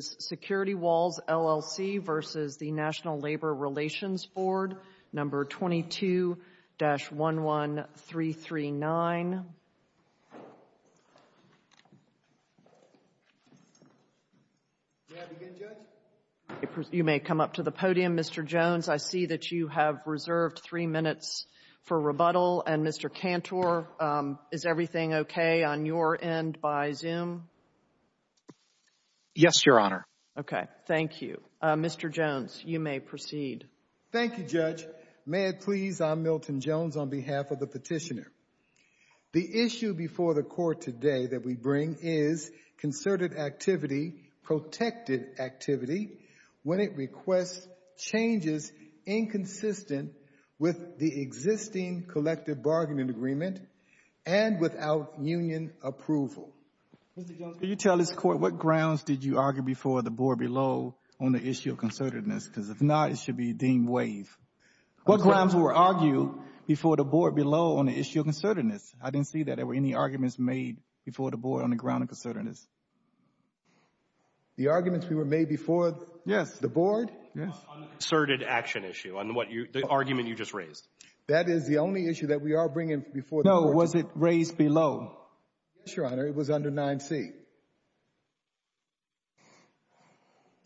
Security Walls, LLC v. National Labor Relations Board, No. 22-11339. You may come up to the podium, Mr. Jones. I see that you have reserved three minutes for rebuttal. And Mr. Cantor, is everything okay on your end by Zoom? Yes, Your Honor. Okay. Thank you. Mr. Jones, you may proceed. Thank you, Judge. May it please, I'm Milton Jones on behalf of the petitioner. The issue before the court today that we bring is concerted activity, protected activity when it requests changes inconsistent with the existing collective bargaining agreement and without union approval. Mr. Jones, could you tell this court what grounds did you argue before the board below on the issue of concertedness? Because if not, it should be deemed waive. What grounds were argued before the board below on the issue of concertedness? I didn't see that there were any arguments made before the board on the ground of concertedness. The arguments we were made before? Yes. The board? Yes. On the concerted action issue, on what you, the argument you just raised. That is the only issue that we are bringing before the board. No, was it raised below? Yes, Your Honor. It was under 9C.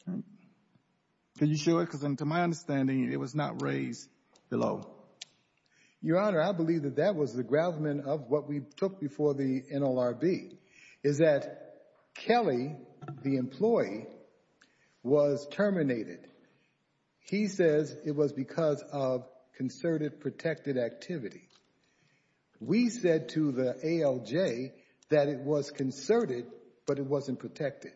Can you show it? Because to my understanding, it was not raised below. Your Honor, I believe that that was the gravamen of what we took before the NLRB is that Kelly, the employee, was terminated. He says it was because of concerted protected activity. We said to the ALJ that it was concerted, but it wasn't protected.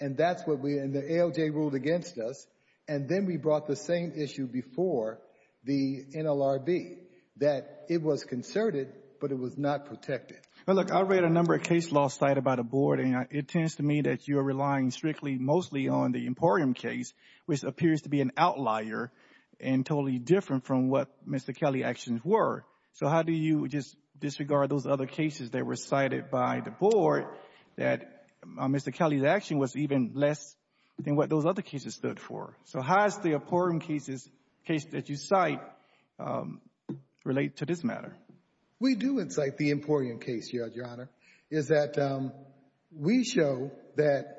And that's what we, and the ALJ ruled against us. And then we brought the same issue before the NLRB, that it was concerted, but it was not protected. Well, look, I read a number of case laws cited by the board, and it tends to me that you are relying strictly mostly on the Emporium case, which appears to be an outlier and totally different from what Mr. Kelly's actions were. So how do you just disregard those other cases that were cited by the board that Mr. Kelly's action was even less than what those other cases stood for? So how does the Emporium case that you cite relate to this matter? We do incite the Emporium case, Your Honor, is that we show that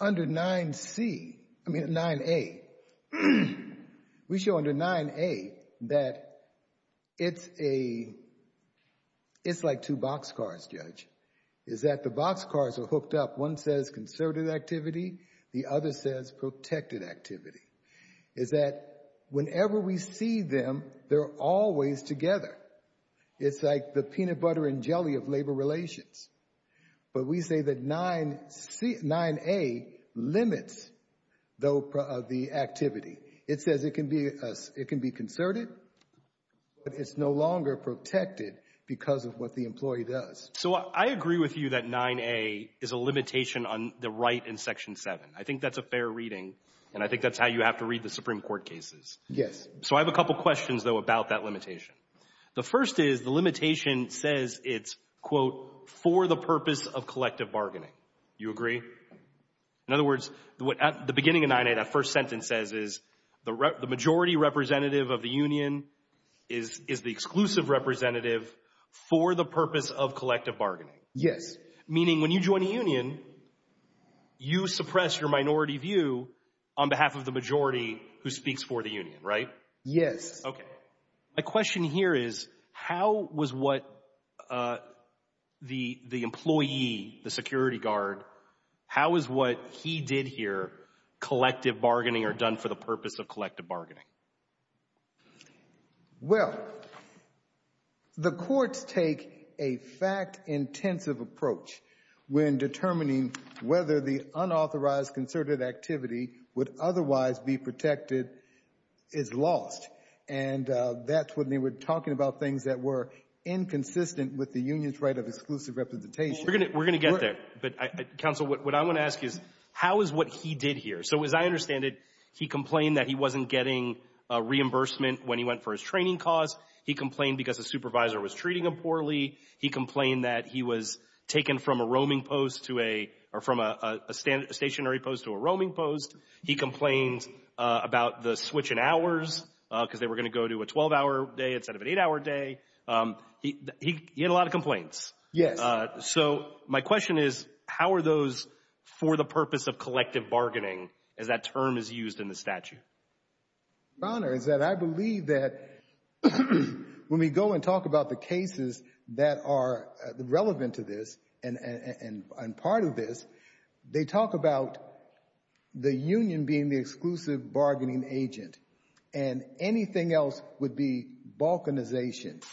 under 9C, I mean 9A, we show under 9A that it's like two boxcars, Judge, is that the boxcars are hooked up. One says concerted activity, the other says protected activity, is that whenever we see them, they're always together. It's like the peanut butter and sugar relations. But we say that 9A limits the activity. It says it can be concerted, but it's no longer protected because of what the employee does. So I agree with you that 9A is a limitation on the right in Section 7. I think that's a fair reading, and I think that's how you have to read the Supreme Court cases. Yes. So I have a couple questions, though, about that for the purpose of collective bargaining. You agree? In other words, at the beginning of 9A, that first sentence says is the majority representative of the union is the exclusive representative for the purpose of collective bargaining. Yes. Meaning when you join a union, you suppress your minority view on behalf of the majority who speaks for the union, right? Yes. Okay. My question here is, how was what the employee, the security guard, how was what he did here collective bargaining or done for the purpose of collective bargaining? Well, the courts take a fact-intensive approach when determining whether the that's when they were talking about things that were inconsistent with the union's right of exclusive representation. We're going to get there, but counsel, what I want to ask is how is what he did here? So as I understand it, he complained that he wasn't getting reimbursement when he went for his training cause. He complained because the supervisor was treating him poorly. He complained that he was taken from a roaming post to a, or from a stationary post to a roaming post. He complained about the switch in hours because they were going to go to a 12-hour day instead of an eight-hour day. He had a lot of complaints. Yes. So my question is, how are those for the purpose of collective bargaining as that term is used in the statute? Your Honor, is that I believe that when we go and talk about the cases that are relevant to this and part of this, they talk about the union being the exclusive bargaining agent and anything else would be balkanization.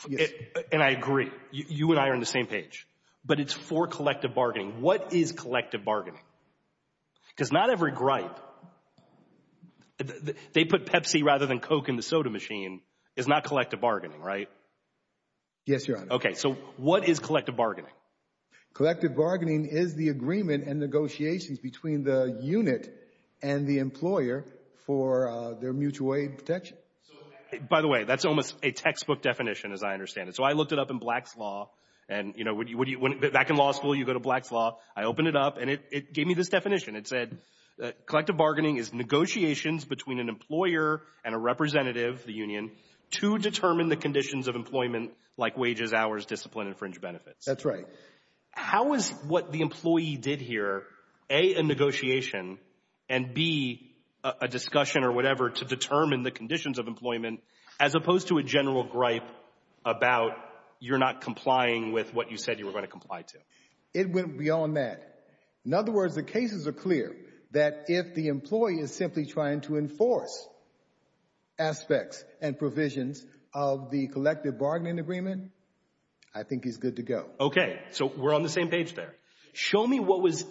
And I agree. You and I are on the same page, but it's for collective bargaining. What is collective bargaining? Because not every gripe, they put Pepsi rather than Coke in the soda machine, is not collective bargaining, right? Yes, Your Honor. Okay. So what is collective bargaining? Collective bargaining is the agreement and negotiations between the unit and the employer for their mutual aid protection. By the way, that's almost a textbook definition as I understand it. So I looked it up in Black's Law and you know, back in law school, you go to Black's Law. I opened it up and it gave me this definition. It said, collective bargaining is negotiations between an employer and a representative, the union, to determine the conditions of employment like wages, hours, discipline, and fringe benefits. That's right. How is what the employee did here, A, a negotiation and B, a discussion or whatever to determine the conditions of employment as opposed to a general gripe about you're not complying with what you said you were going to comply to? It went beyond that. In other words, the cases are clear that if the employee is simply trying to enforce aspects and provisions of the collective bargaining agreement, I think he's good to go. Okay. So we're on the same page there. Show me what was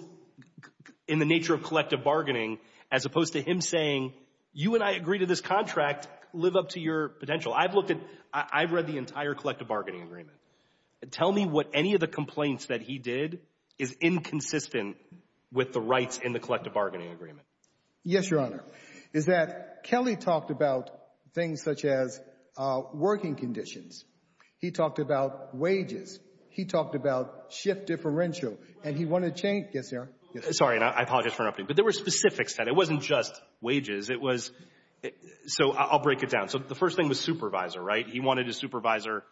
in the nature of collective bargaining as opposed to him saying, you and I agree to this contract, live up to your potential. I've looked at, I've read the entire collective bargaining agreement. Tell me what any of the complaints that he did is inconsistent with the rights in the collective bargaining agreement. Yes, your honor, is that Kelly talked about things such as working conditions. He talked about wages. He talked about shift differential and he wanted to change. Yes, sir. Sorry, I apologize for interrupting, but there were specifics that it wasn't just wages. It was, so I'll break it down. So the first thing was supervisor, right? He wanted his supervisor,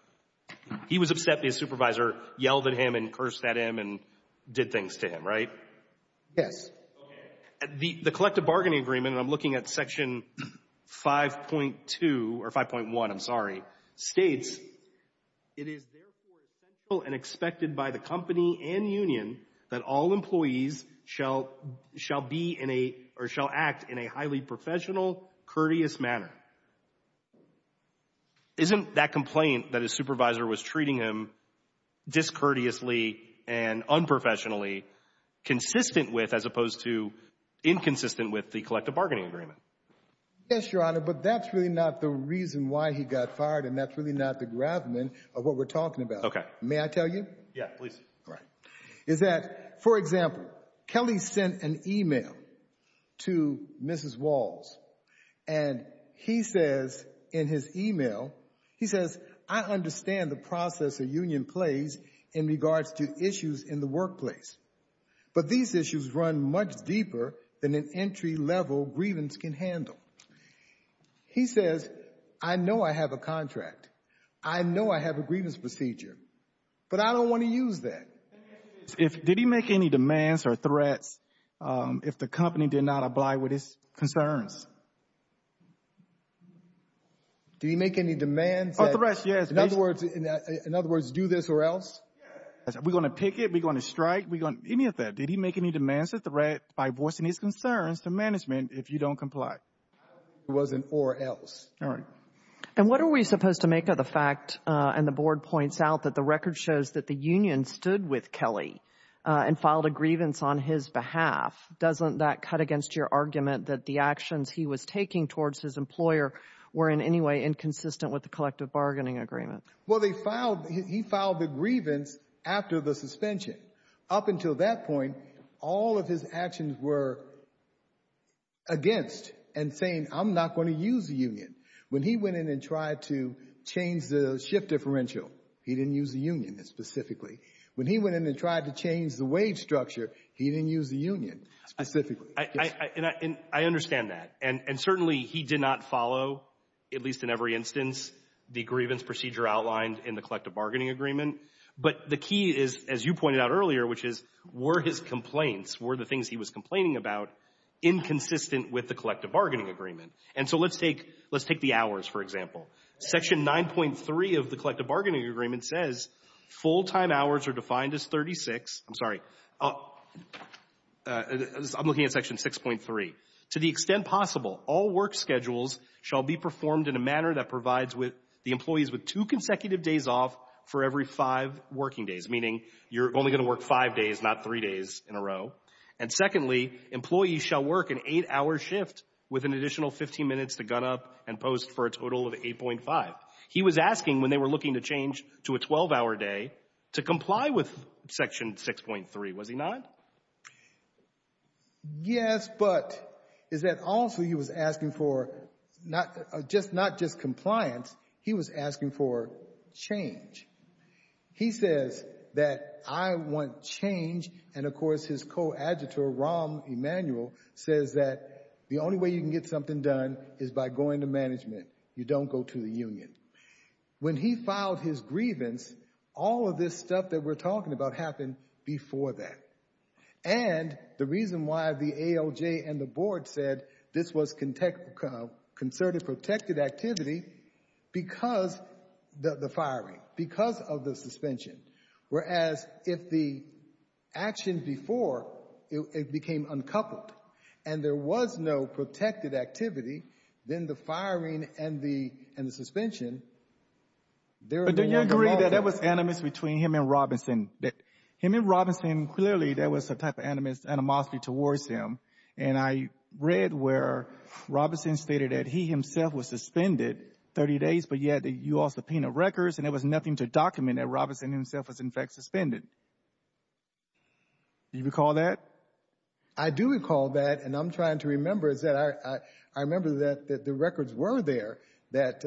he was upset his supervisor yelled at him and cursed at him and did things to him, right? Yes. Okay. The collective bargaining agreement, and I'm looking at section 5.2 or 5.1, I'm sorry, states, it is therefore essential and expected by the company and union that all employees shall be in a, or shall act in a highly professional, courteous manner. Isn't that complaint that his supervisor was treating him discourteously and unprofessionally consistent with, as opposed to inconsistent with the collective bargaining agreement? Yes, your honor, but that's really not the reason why he got fired and that's really not the gravamen of what we're talking about. Okay. May I tell you? Yeah, please. Right. Is that, for example, Kelly sent an email to Mrs. Walls and he says in his email, he says, I understand the process a union plays in regards to issues in the workplace, but these issues run much deeper than an entry level grievance can handle. He says, I know I have a contract. I know I have a grievance procedure, but I don't want to use that. Did he make any demands or threats if the company did not apply with his concerns? Do you make any demands? Or threats, yes. In other words, in other words, do this or else? We're going to pick it. We're going to strike. We're going to, any of that. Did he make any demands or threat by voicing his concerns to management if you don't comply? It was an or else. And what are we supposed to make of the fact and the board points out that the record shows that the union stood with Kelly and filed a grievance on his behalf. Doesn't that cut against your argument that the actions he was taking towards his employer were in any way inconsistent with the collective bargaining agreement? Well, they filed, he filed the grievance after the suspension. Up until that point, all of his actions were against and saying, I'm not going to use the union. When he went in and tried to change the shift differential, he didn't use the union specifically. When he went in and tried to change the wage structure, he didn't use the union specifically. I understand that. And certainly he did not follow, at least in every instance, the grievance procedure outlined in the collective bargaining agreement. But the key is, as you pointed out earlier, which is, were his complaints, were the things he was complaining about inconsistent with the collective bargaining agreement? And so let's take the hours, for example. Section 9.3 of the collective bargaining agreement says full-time hours are defined as 36. I'm sorry. I'm looking at section 6.3. To the extent possible, all work schedules shall be performed in a manner that provides the employees with two consecutive days off for every five working days, meaning you're only going to work five days, not three days in a row. And secondly, employees shall work an eight-hour shift with an additional 15 minutes to gun up and post for a total of 8.5. He was asking, when they were looking to change to a 12-hour day, to comply with section 6.3, was he not? Yes, but is that also he was asking for not just compliance, he was asking for change. He says that I want change, and of course his co-adjutant Rahm Emanuel says that the only way you can get something done is by going to management. You don't go to the union. When he filed his grievance, all of this stuff that we're talking about happened before that. And the reason why the ALJ and the board said this was concerted protected activity because of the firing, because of the suspension, whereas if the action before it became uncoupled and there was no protected activity, then the firing and the suspension, there are no animosities. But do you agree that there was animosity between him and Robinson? Him and Robinson, clearly there was a type of animosity towards him. And I read where Robinson stated that he himself was suspended 30 days, but yet you all subpoenaed records, and there was nothing to document that Robinson himself was in fact suspended. Do you recall that? I do recall that, and I'm trying to remember. I remember that the records were there that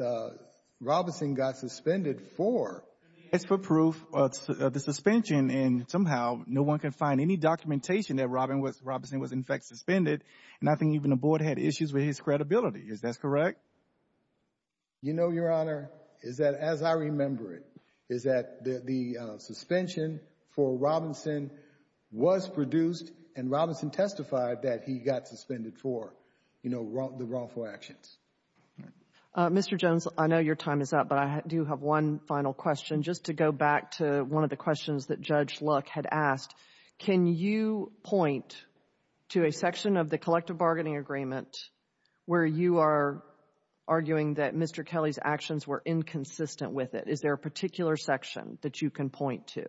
Robinson got suspended for. It's for proof of the suspension, and somehow no one can find any documentation that Robinson was in fact suspended. And I think even the board had issues with his credibility. Is that correct? You know, Your Honor, is that as I remember it, is that the suspension for Robinson was produced and Robinson testified that he got suspended for the wrongful actions. Mr. Jones, I know your time is up, but I do have one final question just to go back to one of the questions that Judge Luck had asked. Can you point to a section of the collective bargaining agreement where you are arguing that Mr. Kelly's actions were inconsistent with it? Is there a particular section that you can point to?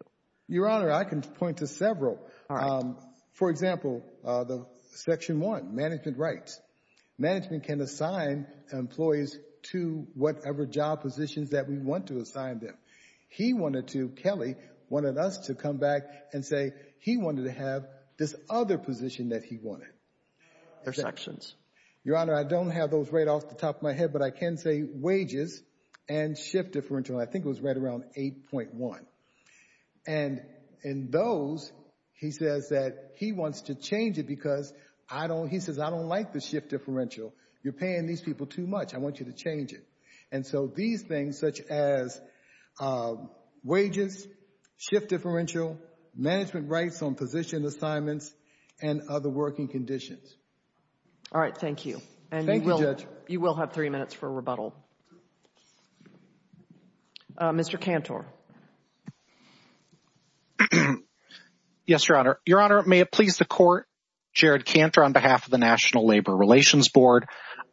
Your Honor, I can point to several. All right. For example, the section one, management rights. Management can assign employees to whatever job positions that we want to assign them. He wanted to, Kelly, wanted us to come back and say he wanted to have this other position that he wanted. There's sections. Your Honor, I don't have those right off the top of my head, but I can say wages and shift differential. I think it was right around 8.1. And in those, he says that he wants to change it because I don't, I don't like the shift differential. You're paying these people too much. I want you to change it. And so these things such as wages, shift differential, management rights on position assignments, and other working conditions. All right. Thank you. Thank you, Judge. You will have three minutes for rebuttal. Mr. Cantor. Yes, Your Honor. Your Honor, may it please the court. Jared Cantor on behalf of the National Labor Relations Board.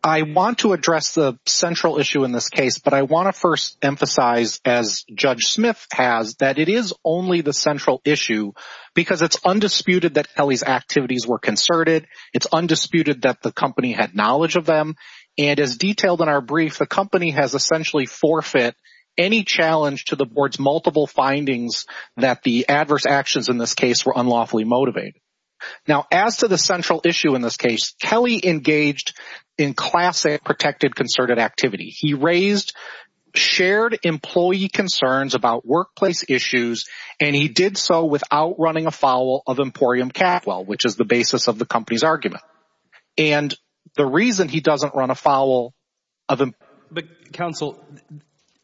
I want to address the central issue in this case, but I want to first emphasize as Judge Smith has that it is only the central issue because it's undisputed that Kelly's activities were concerted. It's undisputed that the company had knowledge of them. And as detailed in our brief, the company has essentially forfeit any challenge to the board's multiple findings that the adverse actions in this case were unlawfully motivated. Now, as to the central issue in this case, Kelly engaged in classic protected concerted activity. He raised shared employee concerns about workplace issues, and he did so without running afoul of Emporium Catwell, which is the basis of the company's argument. And the reason he doesn't run afoul of... But counsel,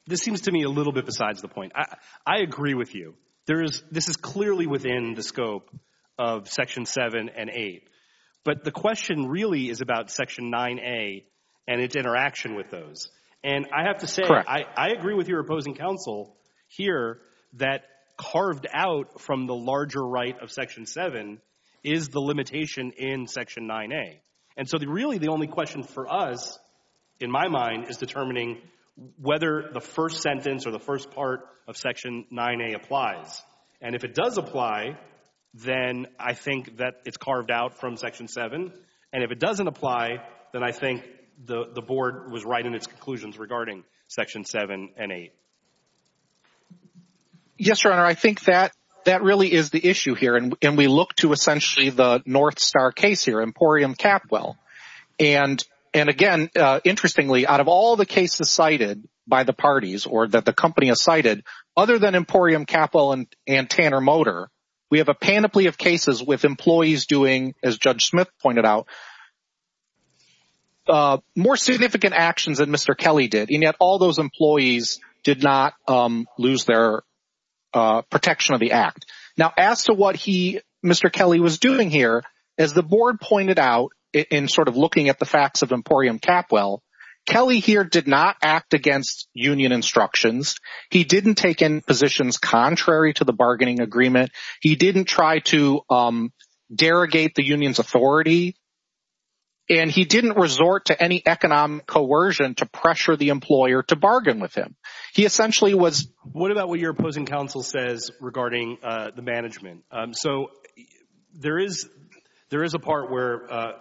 this seems to me a little bit the point. I agree with you. This is clearly within the scope of Section 7 and 8. But the question really is about Section 9a and its interaction with those. And I have to say I agree with your opposing counsel here that carved out from the larger right of Section 7 is the limitation in Section 9a. And so really the only question for us, in my mind, is determining whether the first sentence or the first part of Section 9a applies. And if it does apply, then I think that it's carved out from Section 7. And if it doesn't apply, then I think the board was right in its conclusions regarding Section 7 and 8. Yes, Your Honor, I think that really is the issue here. And we look to essentially the North Star case here, Emporium Catwell. And again, interestingly, out of all the cases cited by the parties or that the company has cited, other than Emporium Catwell and Tanner Motor, we have a panoply of cases with employees doing, as Judge Smith pointed out, more significant actions than Mr. Kelly did. And yet all those employees did not lose their As the board pointed out in sort of looking at the facts of Emporium Catwell, Kelly here did not act against union instructions. He didn't take in positions contrary to the bargaining agreement. He didn't try to derogate the union's authority. And he didn't resort to any economic coercion to pressure the employer to bargain with him. He essentially was— What about what your opposing counsel says regarding the management? So there is a part where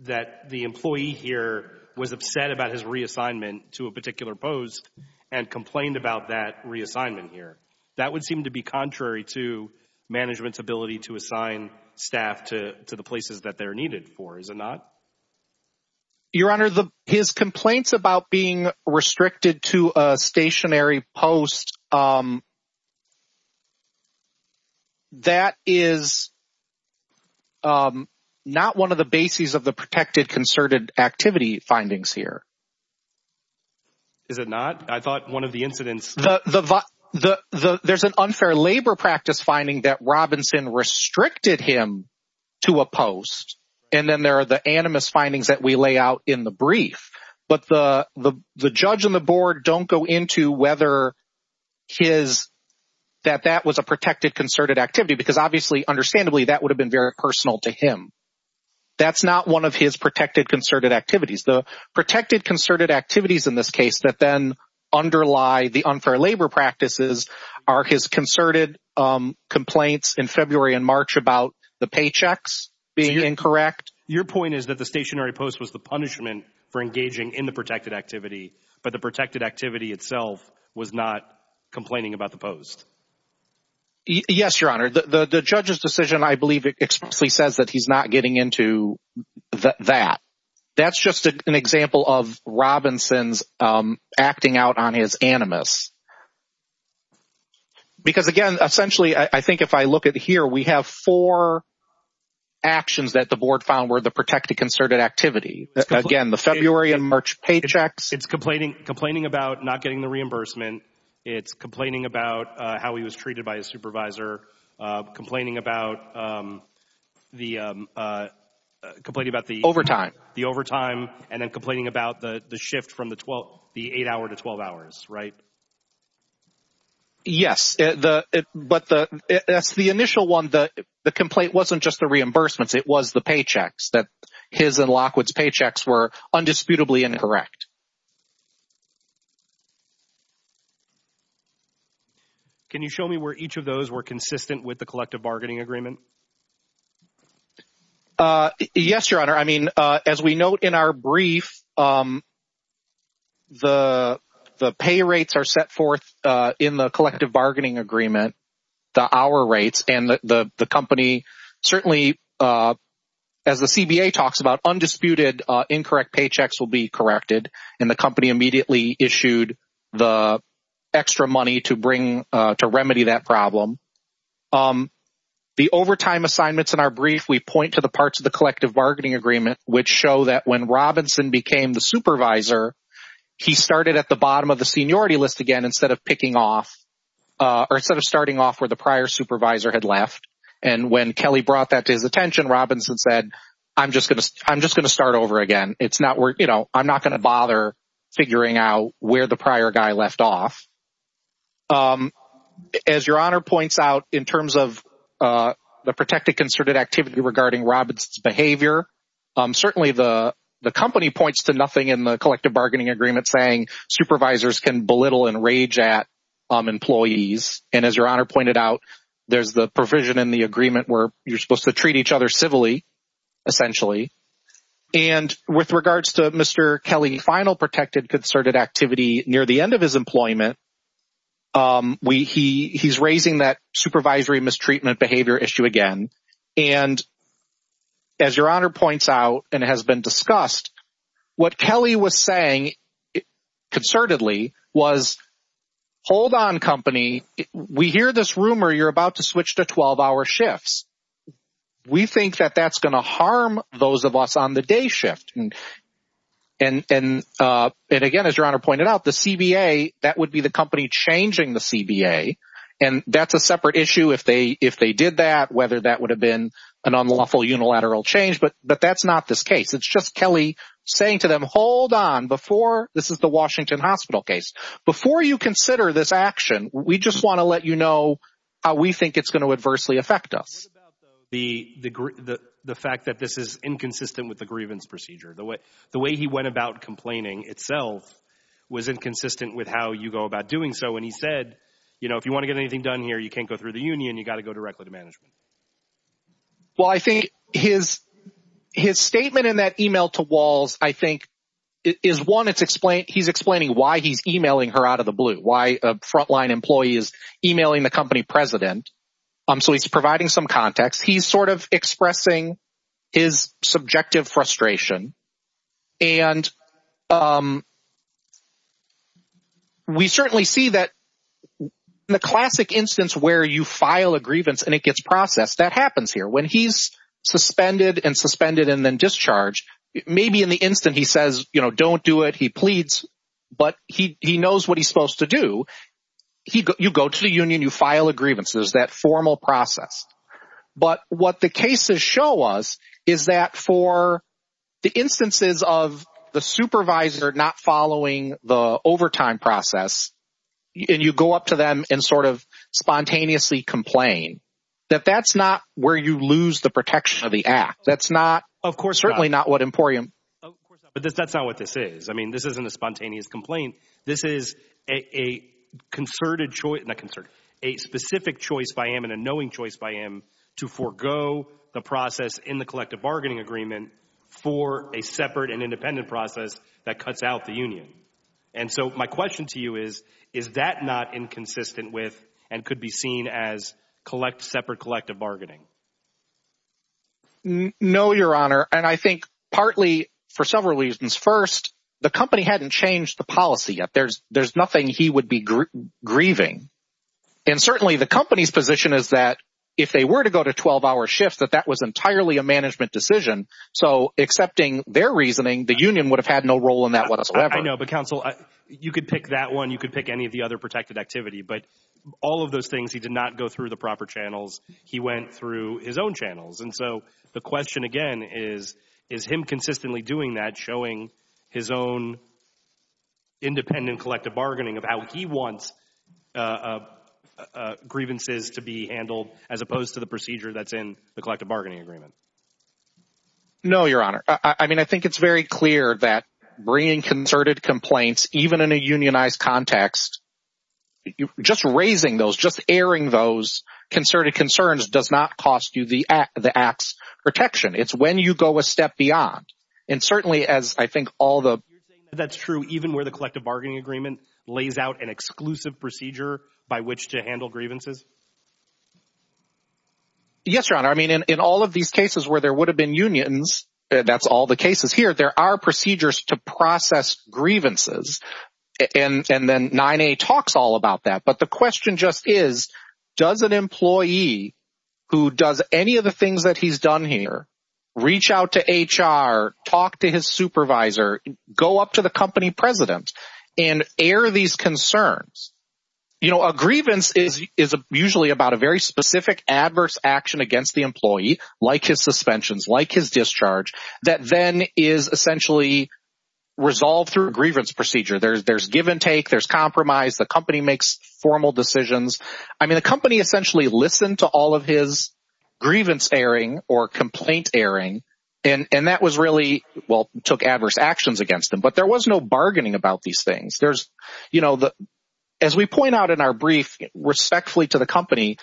that the employee here was upset about his reassignment to a particular post and complained about that reassignment here. That would seem to be contrary to management's ability to assign staff to the places that they're needed for, is it not? Your Honor, his complaints about being restricted to a stationary post, um, that is not one of the bases of the protected concerted activity findings here. Is it not? I thought one of the incidents— There's an unfair labor practice finding that Robinson restricted him to a post. And then there are the animus findings that we lay out in the brief. But the judge and the board don't go into whether his— that that was a protected concerted activity because obviously, understandably, that would have been very personal to him. That's not one of his protected concerted activities. The protected concerted activities in this case that then underlie the unfair labor practices are his concerted complaints in February and March about the paychecks being incorrect. Your point is that the stationary post was the punishment for engaging in the protected activity, but the protected activity itself was not complaining about the post. Yes, Your Honor. The judge's decision, I believe, explicitly says that he's not getting into that. That's just an example of Robinson's acting out on his animus. Because again, essentially, I think if I look at here, we have four actions that the board found were the protected concerted activity. Again, the February and March paychecks— It's complaining about not getting the reimbursement. It's complaining about how he was treated by his supervisor, complaining about the— Complaining about the— Overtime. The overtime, and then complaining about the shift from the eight hour to 12 hours, right? Yes, but that's the initial one. The complaint wasn't just the reimbursements, it was the paychecks, that his and Lockwood's paychecks were undisputably incorrect. Can you show me where each of those were consistent with the collective bargaining agreement? Yes, Your Honor. As we note in our brief, the pay rates are set forth in the collective bargaining agreement, the hour rates, and the company certainly, as the CBA talks about, undisputed incorrect paychecks will be corrected, and the company immediately issued the extra money to remedy that problem. The overtime assignments in our brief, we point to the parts of the collective bargaining agreement, which show that when Robinson became the supervisor, he started at the bottom of the seniority list again instead of picking off, or instead of starting off where the prior supervisor had left. And when Kelly brought that to his attention, Robinson said, I'm just going to start over again. I'm not going to bother figuring out where the prior guy left off. As Your Honor points out, in terms of the protected concerted activity regarding Robinson's behavior, certainly the company points to nothing in the collective bargaining agreement saying supervisors can belittle and rage at employees. And as Your Honor pointed out, there's the provision in the agreement where you're supposed to treat each other civilly, essentially. And with regards to Mr. Kelly's final protected concerted activity near the end of his employment, he's raising that supervisory mistreatment behavior issue again. And as Your Honor points out and has been discussed, what Kelly was saying concertedly was, hold on, company. We hear this rumor you're about to switch to 12-hour shifts. We think that that's going to harm those of us on the day shift. And again, as Your Honor pointed out, the CBA, that would be the company changing the CBA. And that's a separate issue if they did that, whether that would have been an unlawful unilateral change. But that's not this case. It's just Kelly saying to them, hold on. This is the Washington Hospital case. Before you consider this action, we just want to let you know how we think it's going to adversely affect us. What about the fact that this is inconsistent with the grievance procedure? The way he went about complaining itself was inconsistent with how you go about doing so. And he said, if you want to get anything done here, you can't go through the union. You got to go directly to management. Well, I think his statement in that email to Walls, I think, is one, he's explaining why he's emailing her out of the blue, why a frontline employee is emailing the company president. So he's providing some context. He's sort of expressing his subjective frustration. And we certainly see that in the classic instance where you file a grievance and it gets processed, that happens here. When he's suspended and suspended and then discharged, maybe in the instant he says, you know, don't do it, he pleads, but he knows what he's supposed to do. You go to the union, you file a grievance, there's that formal process. But what the cases show us is that for the instances of the supervisor not following the overtime process, and you go up to them and sort of spontaneously complain, that that's not where you lose the protection of the act. That's not, certainly not what Emporium. But that's not what this is. I mean, this isn't a spontaneous complaint. This is a concerted choice, not concert, a specific choice by him and a knowing choice by him to forego the process in the collective bargaining agreement for a separate and independent process that cuts out the union. And so my question to you is, is that not inconsistent with and could be seen as collect collective bargaining? No, your honor. And I think partly for several reasons. First, the company hadn't changed the policy yet. There's nothing he would be grieving. And certainly the company's position is that if they were to go to 12-hour shifts, that that was entirely a management decision. So accepting their reasoning, the union would have had no role in that whatsoever. I know, but counsel, you could pick that one, you could pick any of the other protected activity, but all of those things, he did not go through the proper channels. He went through his own channels. And so the question again is, is him consistently doing that, showing his own independent collective bargaining of how he wants grievances to be handled as opposed to the procedure that's in the collective bargaining agreement? No, your honor. I mean, I think it's very clear that bringing concerted complaints, even in a unionized context, just raising those, just airing those concerted concerns does not cost you the act's protection. It's when you go a step beyond. And certainly as I think all the... You're saying that's true even where the collective bargaining agreement lays out an exclusive procedure by which to handle grievances? Yes, your honor. I mean, in all of these cases where there would have been unions, that's all the cases here, there are procedures to process grievances. And then 9A talks all about that. But the question just is, does an employee who does any of the things that he's done here, reach out to HR, talk to his supervisor, go up to the company president and air these concerns? You know, a grievance is usually about a very specific adverse action against the employee, like his suspensions, like his discharge, that then is essentially resolved through a grievance procedure. There's give and take, there's compromise, the company makes formal decisions. I mean, the company essentially listened to all of his grievance airing or complaint airing, and that was really, well, took adverse actions against them. But there was no bargaining about these things. As we point out in our brief, respectfully to the company,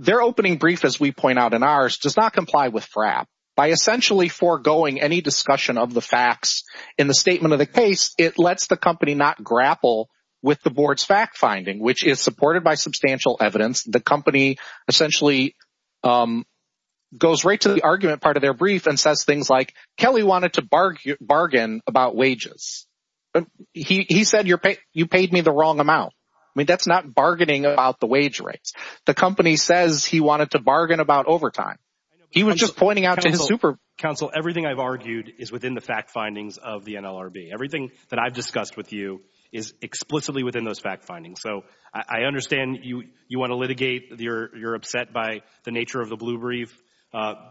their opening brief, as we point out in ours, does not comply with FRAP. By essentially forgoing any discussion of the facts in the statement of the case, it lets the company not grapple with the board's fact-finding, which is supported by substantial evidence. The company essentially goes right to the argument part of their brief and says things like, Kelly wanted to bargain about wages. He said, you paid me the wrong amount. I mean, that's not bargaining about the wage rates. The company says he wanted to bargain about overtime. He was just pointing out to his super... Counsel, everything I've argued is within the fact findings of the NLRB. Everything that I've discussed with you is explicitly within those fact findings. So I understand you want to litigate, you're upset by the nature of the blue brief.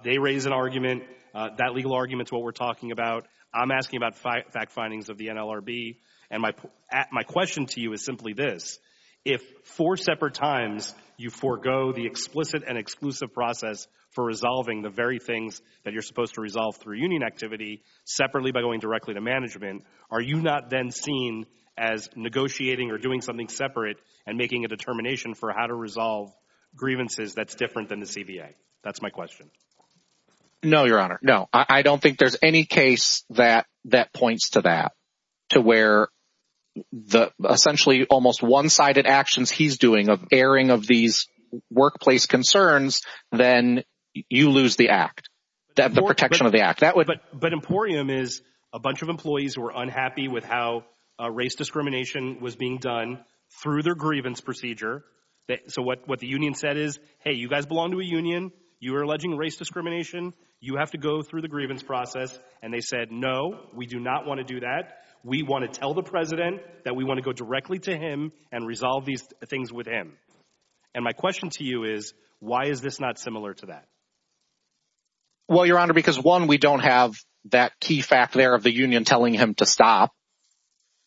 They raise an argument, that legal argument's what we're talking about. I'm asking about fact findings of the NLRB. And my question to you is simply this, if four separate times you forgo the explicit and exclusive process for resolving the very things that you're supposed to resolve through union activity, separately by going directly to management, are you not then seen as negotiating or doing something separate and making a determination for how to resolve grievances that's different than the CBA? That's my question. No, Your Honor. No, I don't think there's any case that points to that, the essentially almost one-sided actions he's doing of airing of these workplace concerns, then you lose the act, the protection of the act. But Emporium is a bunch of employees who were unhappy with how race discrimination was being done through their grievance procedure. So what the union said is, hey, you guys belong to a union, you are alleging race discrimination, you have to go through the grievance process. And they said, no, we do not want to do that. We want to tell the president that we want to go directly to him and resolve these things with him. And my question to you is, why is this not similar to that? Well, Your Honor, because one, we don't have that key fact there of the union telling him to stop.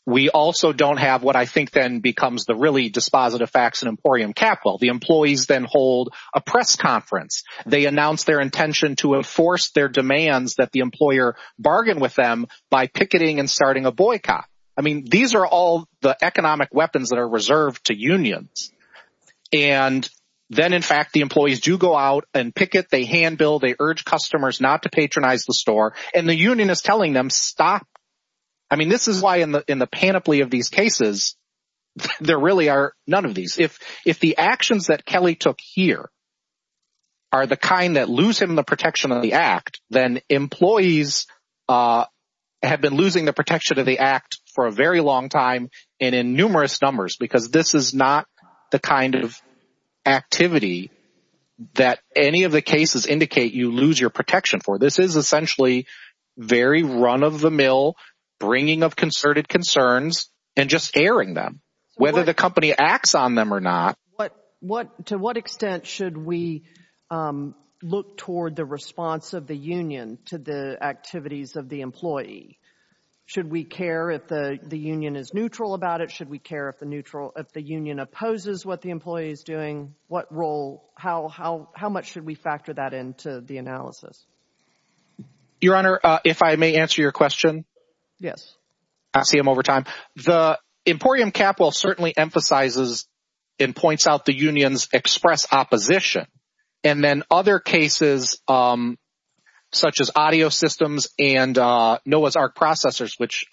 We also don't have what I think then becomes the really dispositive facts in Emporium Capital. The employees then hold a press conference. They announce their intention to enforce their boycott. I mean, these are all the economic weapons that are reserved to unions. And then, in fact, the employees do go out and picket, they handbill, they urge customers not to patronize the store, and the union is telling them, stop. I mean, this is why in the panoply of these cases, there really are none of these. If the actions that Kelly took here are the kind that lose him the protection of the act, then employees have been losing the act for a very long time and in numerous numbers, because this is not the kind of activity that any of the cases indicate you lose your protection for. This is essentially very run-of-the-mill bringing of concerted concerns and just airing them, whether the company acts on them or not. To what extent should we look toward the response of the union to the activities of the employee? Should we care if the union is neutral about it? Should we care if the union opposes what the employee is doing? What role, how much should we factor that into the analysis? Your Honor, if I may answer your question? Yes. I see him over time. The Emporium Capital certainly emphasizes and points out the which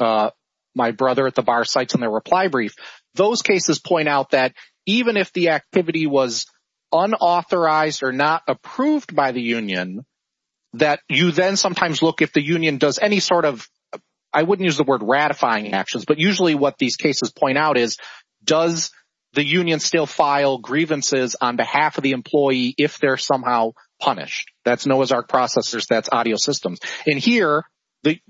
my brother at the bar cites in their reply brief. Those cases point out that even if the activity was unauthorized or not approved by the union, that you then sometimes look if the union does any sort of, I wouldn't use the word ratifying actions, but usually what these cases point out is does the union still file grievances on behalf of the employee if they're punished? That's Noah's Ark processors. That's audio systems. In here, the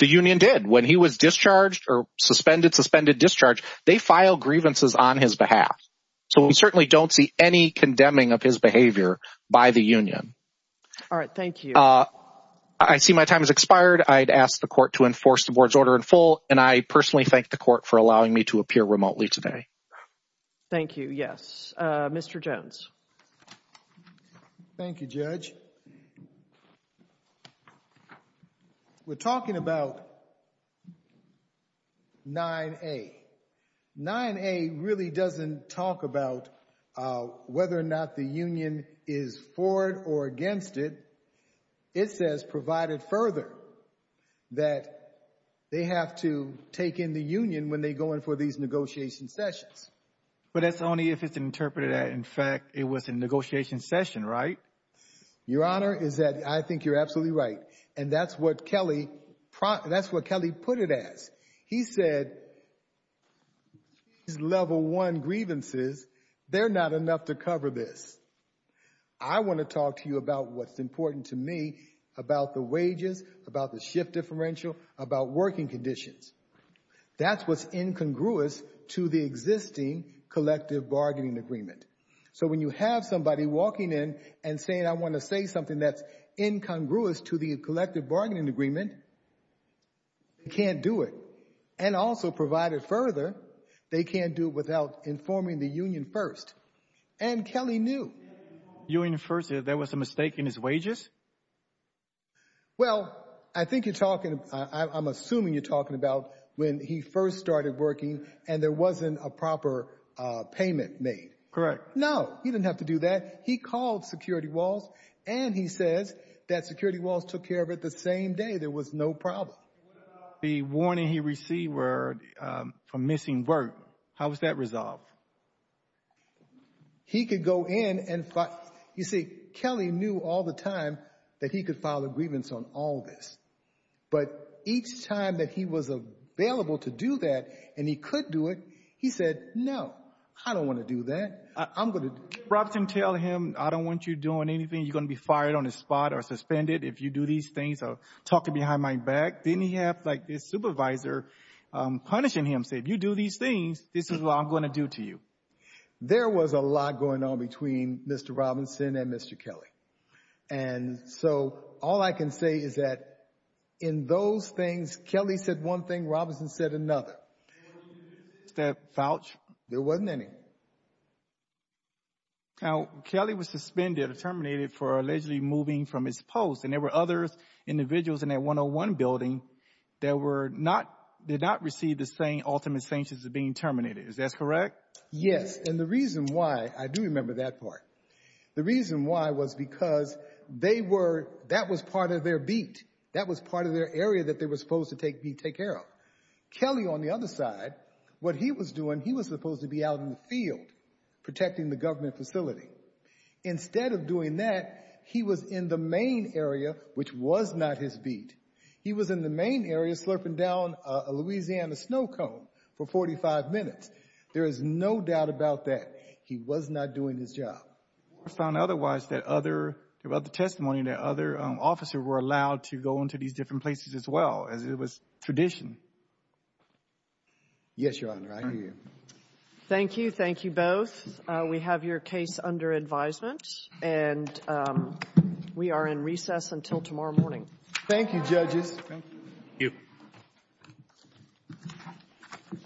union did. When he was discharged or suspended, suspended discharge, they file grievances on his behalf. So we certainly don't see any condemning of his behavior by the union. All right. Thank you. I see my time has expired. I'd ask the court to enforce the board's order in full, and I personally thank the court for allowing me to appear remotely today. Thank you. Yes. Mr. Jones. Thank you, Judge. We're talking about 9A. 9A really doesn't talk about whether or not the union is for it or against it. It says provided further that they have to take in the union when they go in for these negotiation sessions. But that's only if it's interpreted that, in fact, it was a negotiation session, right? Your Honor, I think you're absolutely right. And that's what Kelly put it as. He said these level one grievances, they're not enough to cover this. I want to talk to you about what's important to me about the wages, about the shift differential, about working conditions. That's what's incongruous to the existing collective bargaining agreement. So when you have somebody walking in and saying, I want to say something that's incongruous to the collective bargaining agreement, they can't do it. And also provided further, they can't do it without informing the union first. And Kelly knew. Union first, there was a mistake in his wages? Well, I think you're talking, I'm assuming you're talking about when he first started working and there wasn't a proper payment made. Correct. No, he didn't have to do that. He called Security Walls and he says that Security Walls took care of it the same day. There was no problem. What about the warning he received for missing work? How was that resolved? He could go in and fight. You see, Kelly knew all the time that he could file a grievance on all this. But each time that he was available to do that and he could do it, he said, no, I don't want to do that. I'm going to... Robert can tell him, I don't want you doing anything. You're going to be fired on the spot or suspended if you do these things or talking behind my back. Then you have like this supervisor punishing him. Say, if you do these things, this is what I'm going to do to you. There was a lot going on between Mr. Robinson and Mr. Kelly. And so all I can say is that in those things, Kelly said one thing, Robinson said another. That vouch, there wasn't any. Now, Kelly was suspended or terminated for allegedly moving from his post and there were other individuals in that 101 building that were not, did not receive the same ultimate sanctions as being terminated. Is that correct? Yes. And the reason why, I do remember that part. The reason why was because they were, that was part of their beat. That was part of their area that they were supposed to take care of. Kelly on the other side, what he was doing, he was supposed to be out in the field protecting the government facility. Instead of doing that, he was in the main area, which was not his beat. He was in the main area slurping down a Louisiana snow cone for 45 minutes. There is no doubt about that. He was not doing his job. I found otherwise that other, about the testimony that other officers were allowed to go into these different places as well, as it was tradition. Yes, Your Honor, I hear you. Thank you. Thank you both. We have your case under advisement and we are in recess until tomorrow morning. Thank you, judges. Thank you.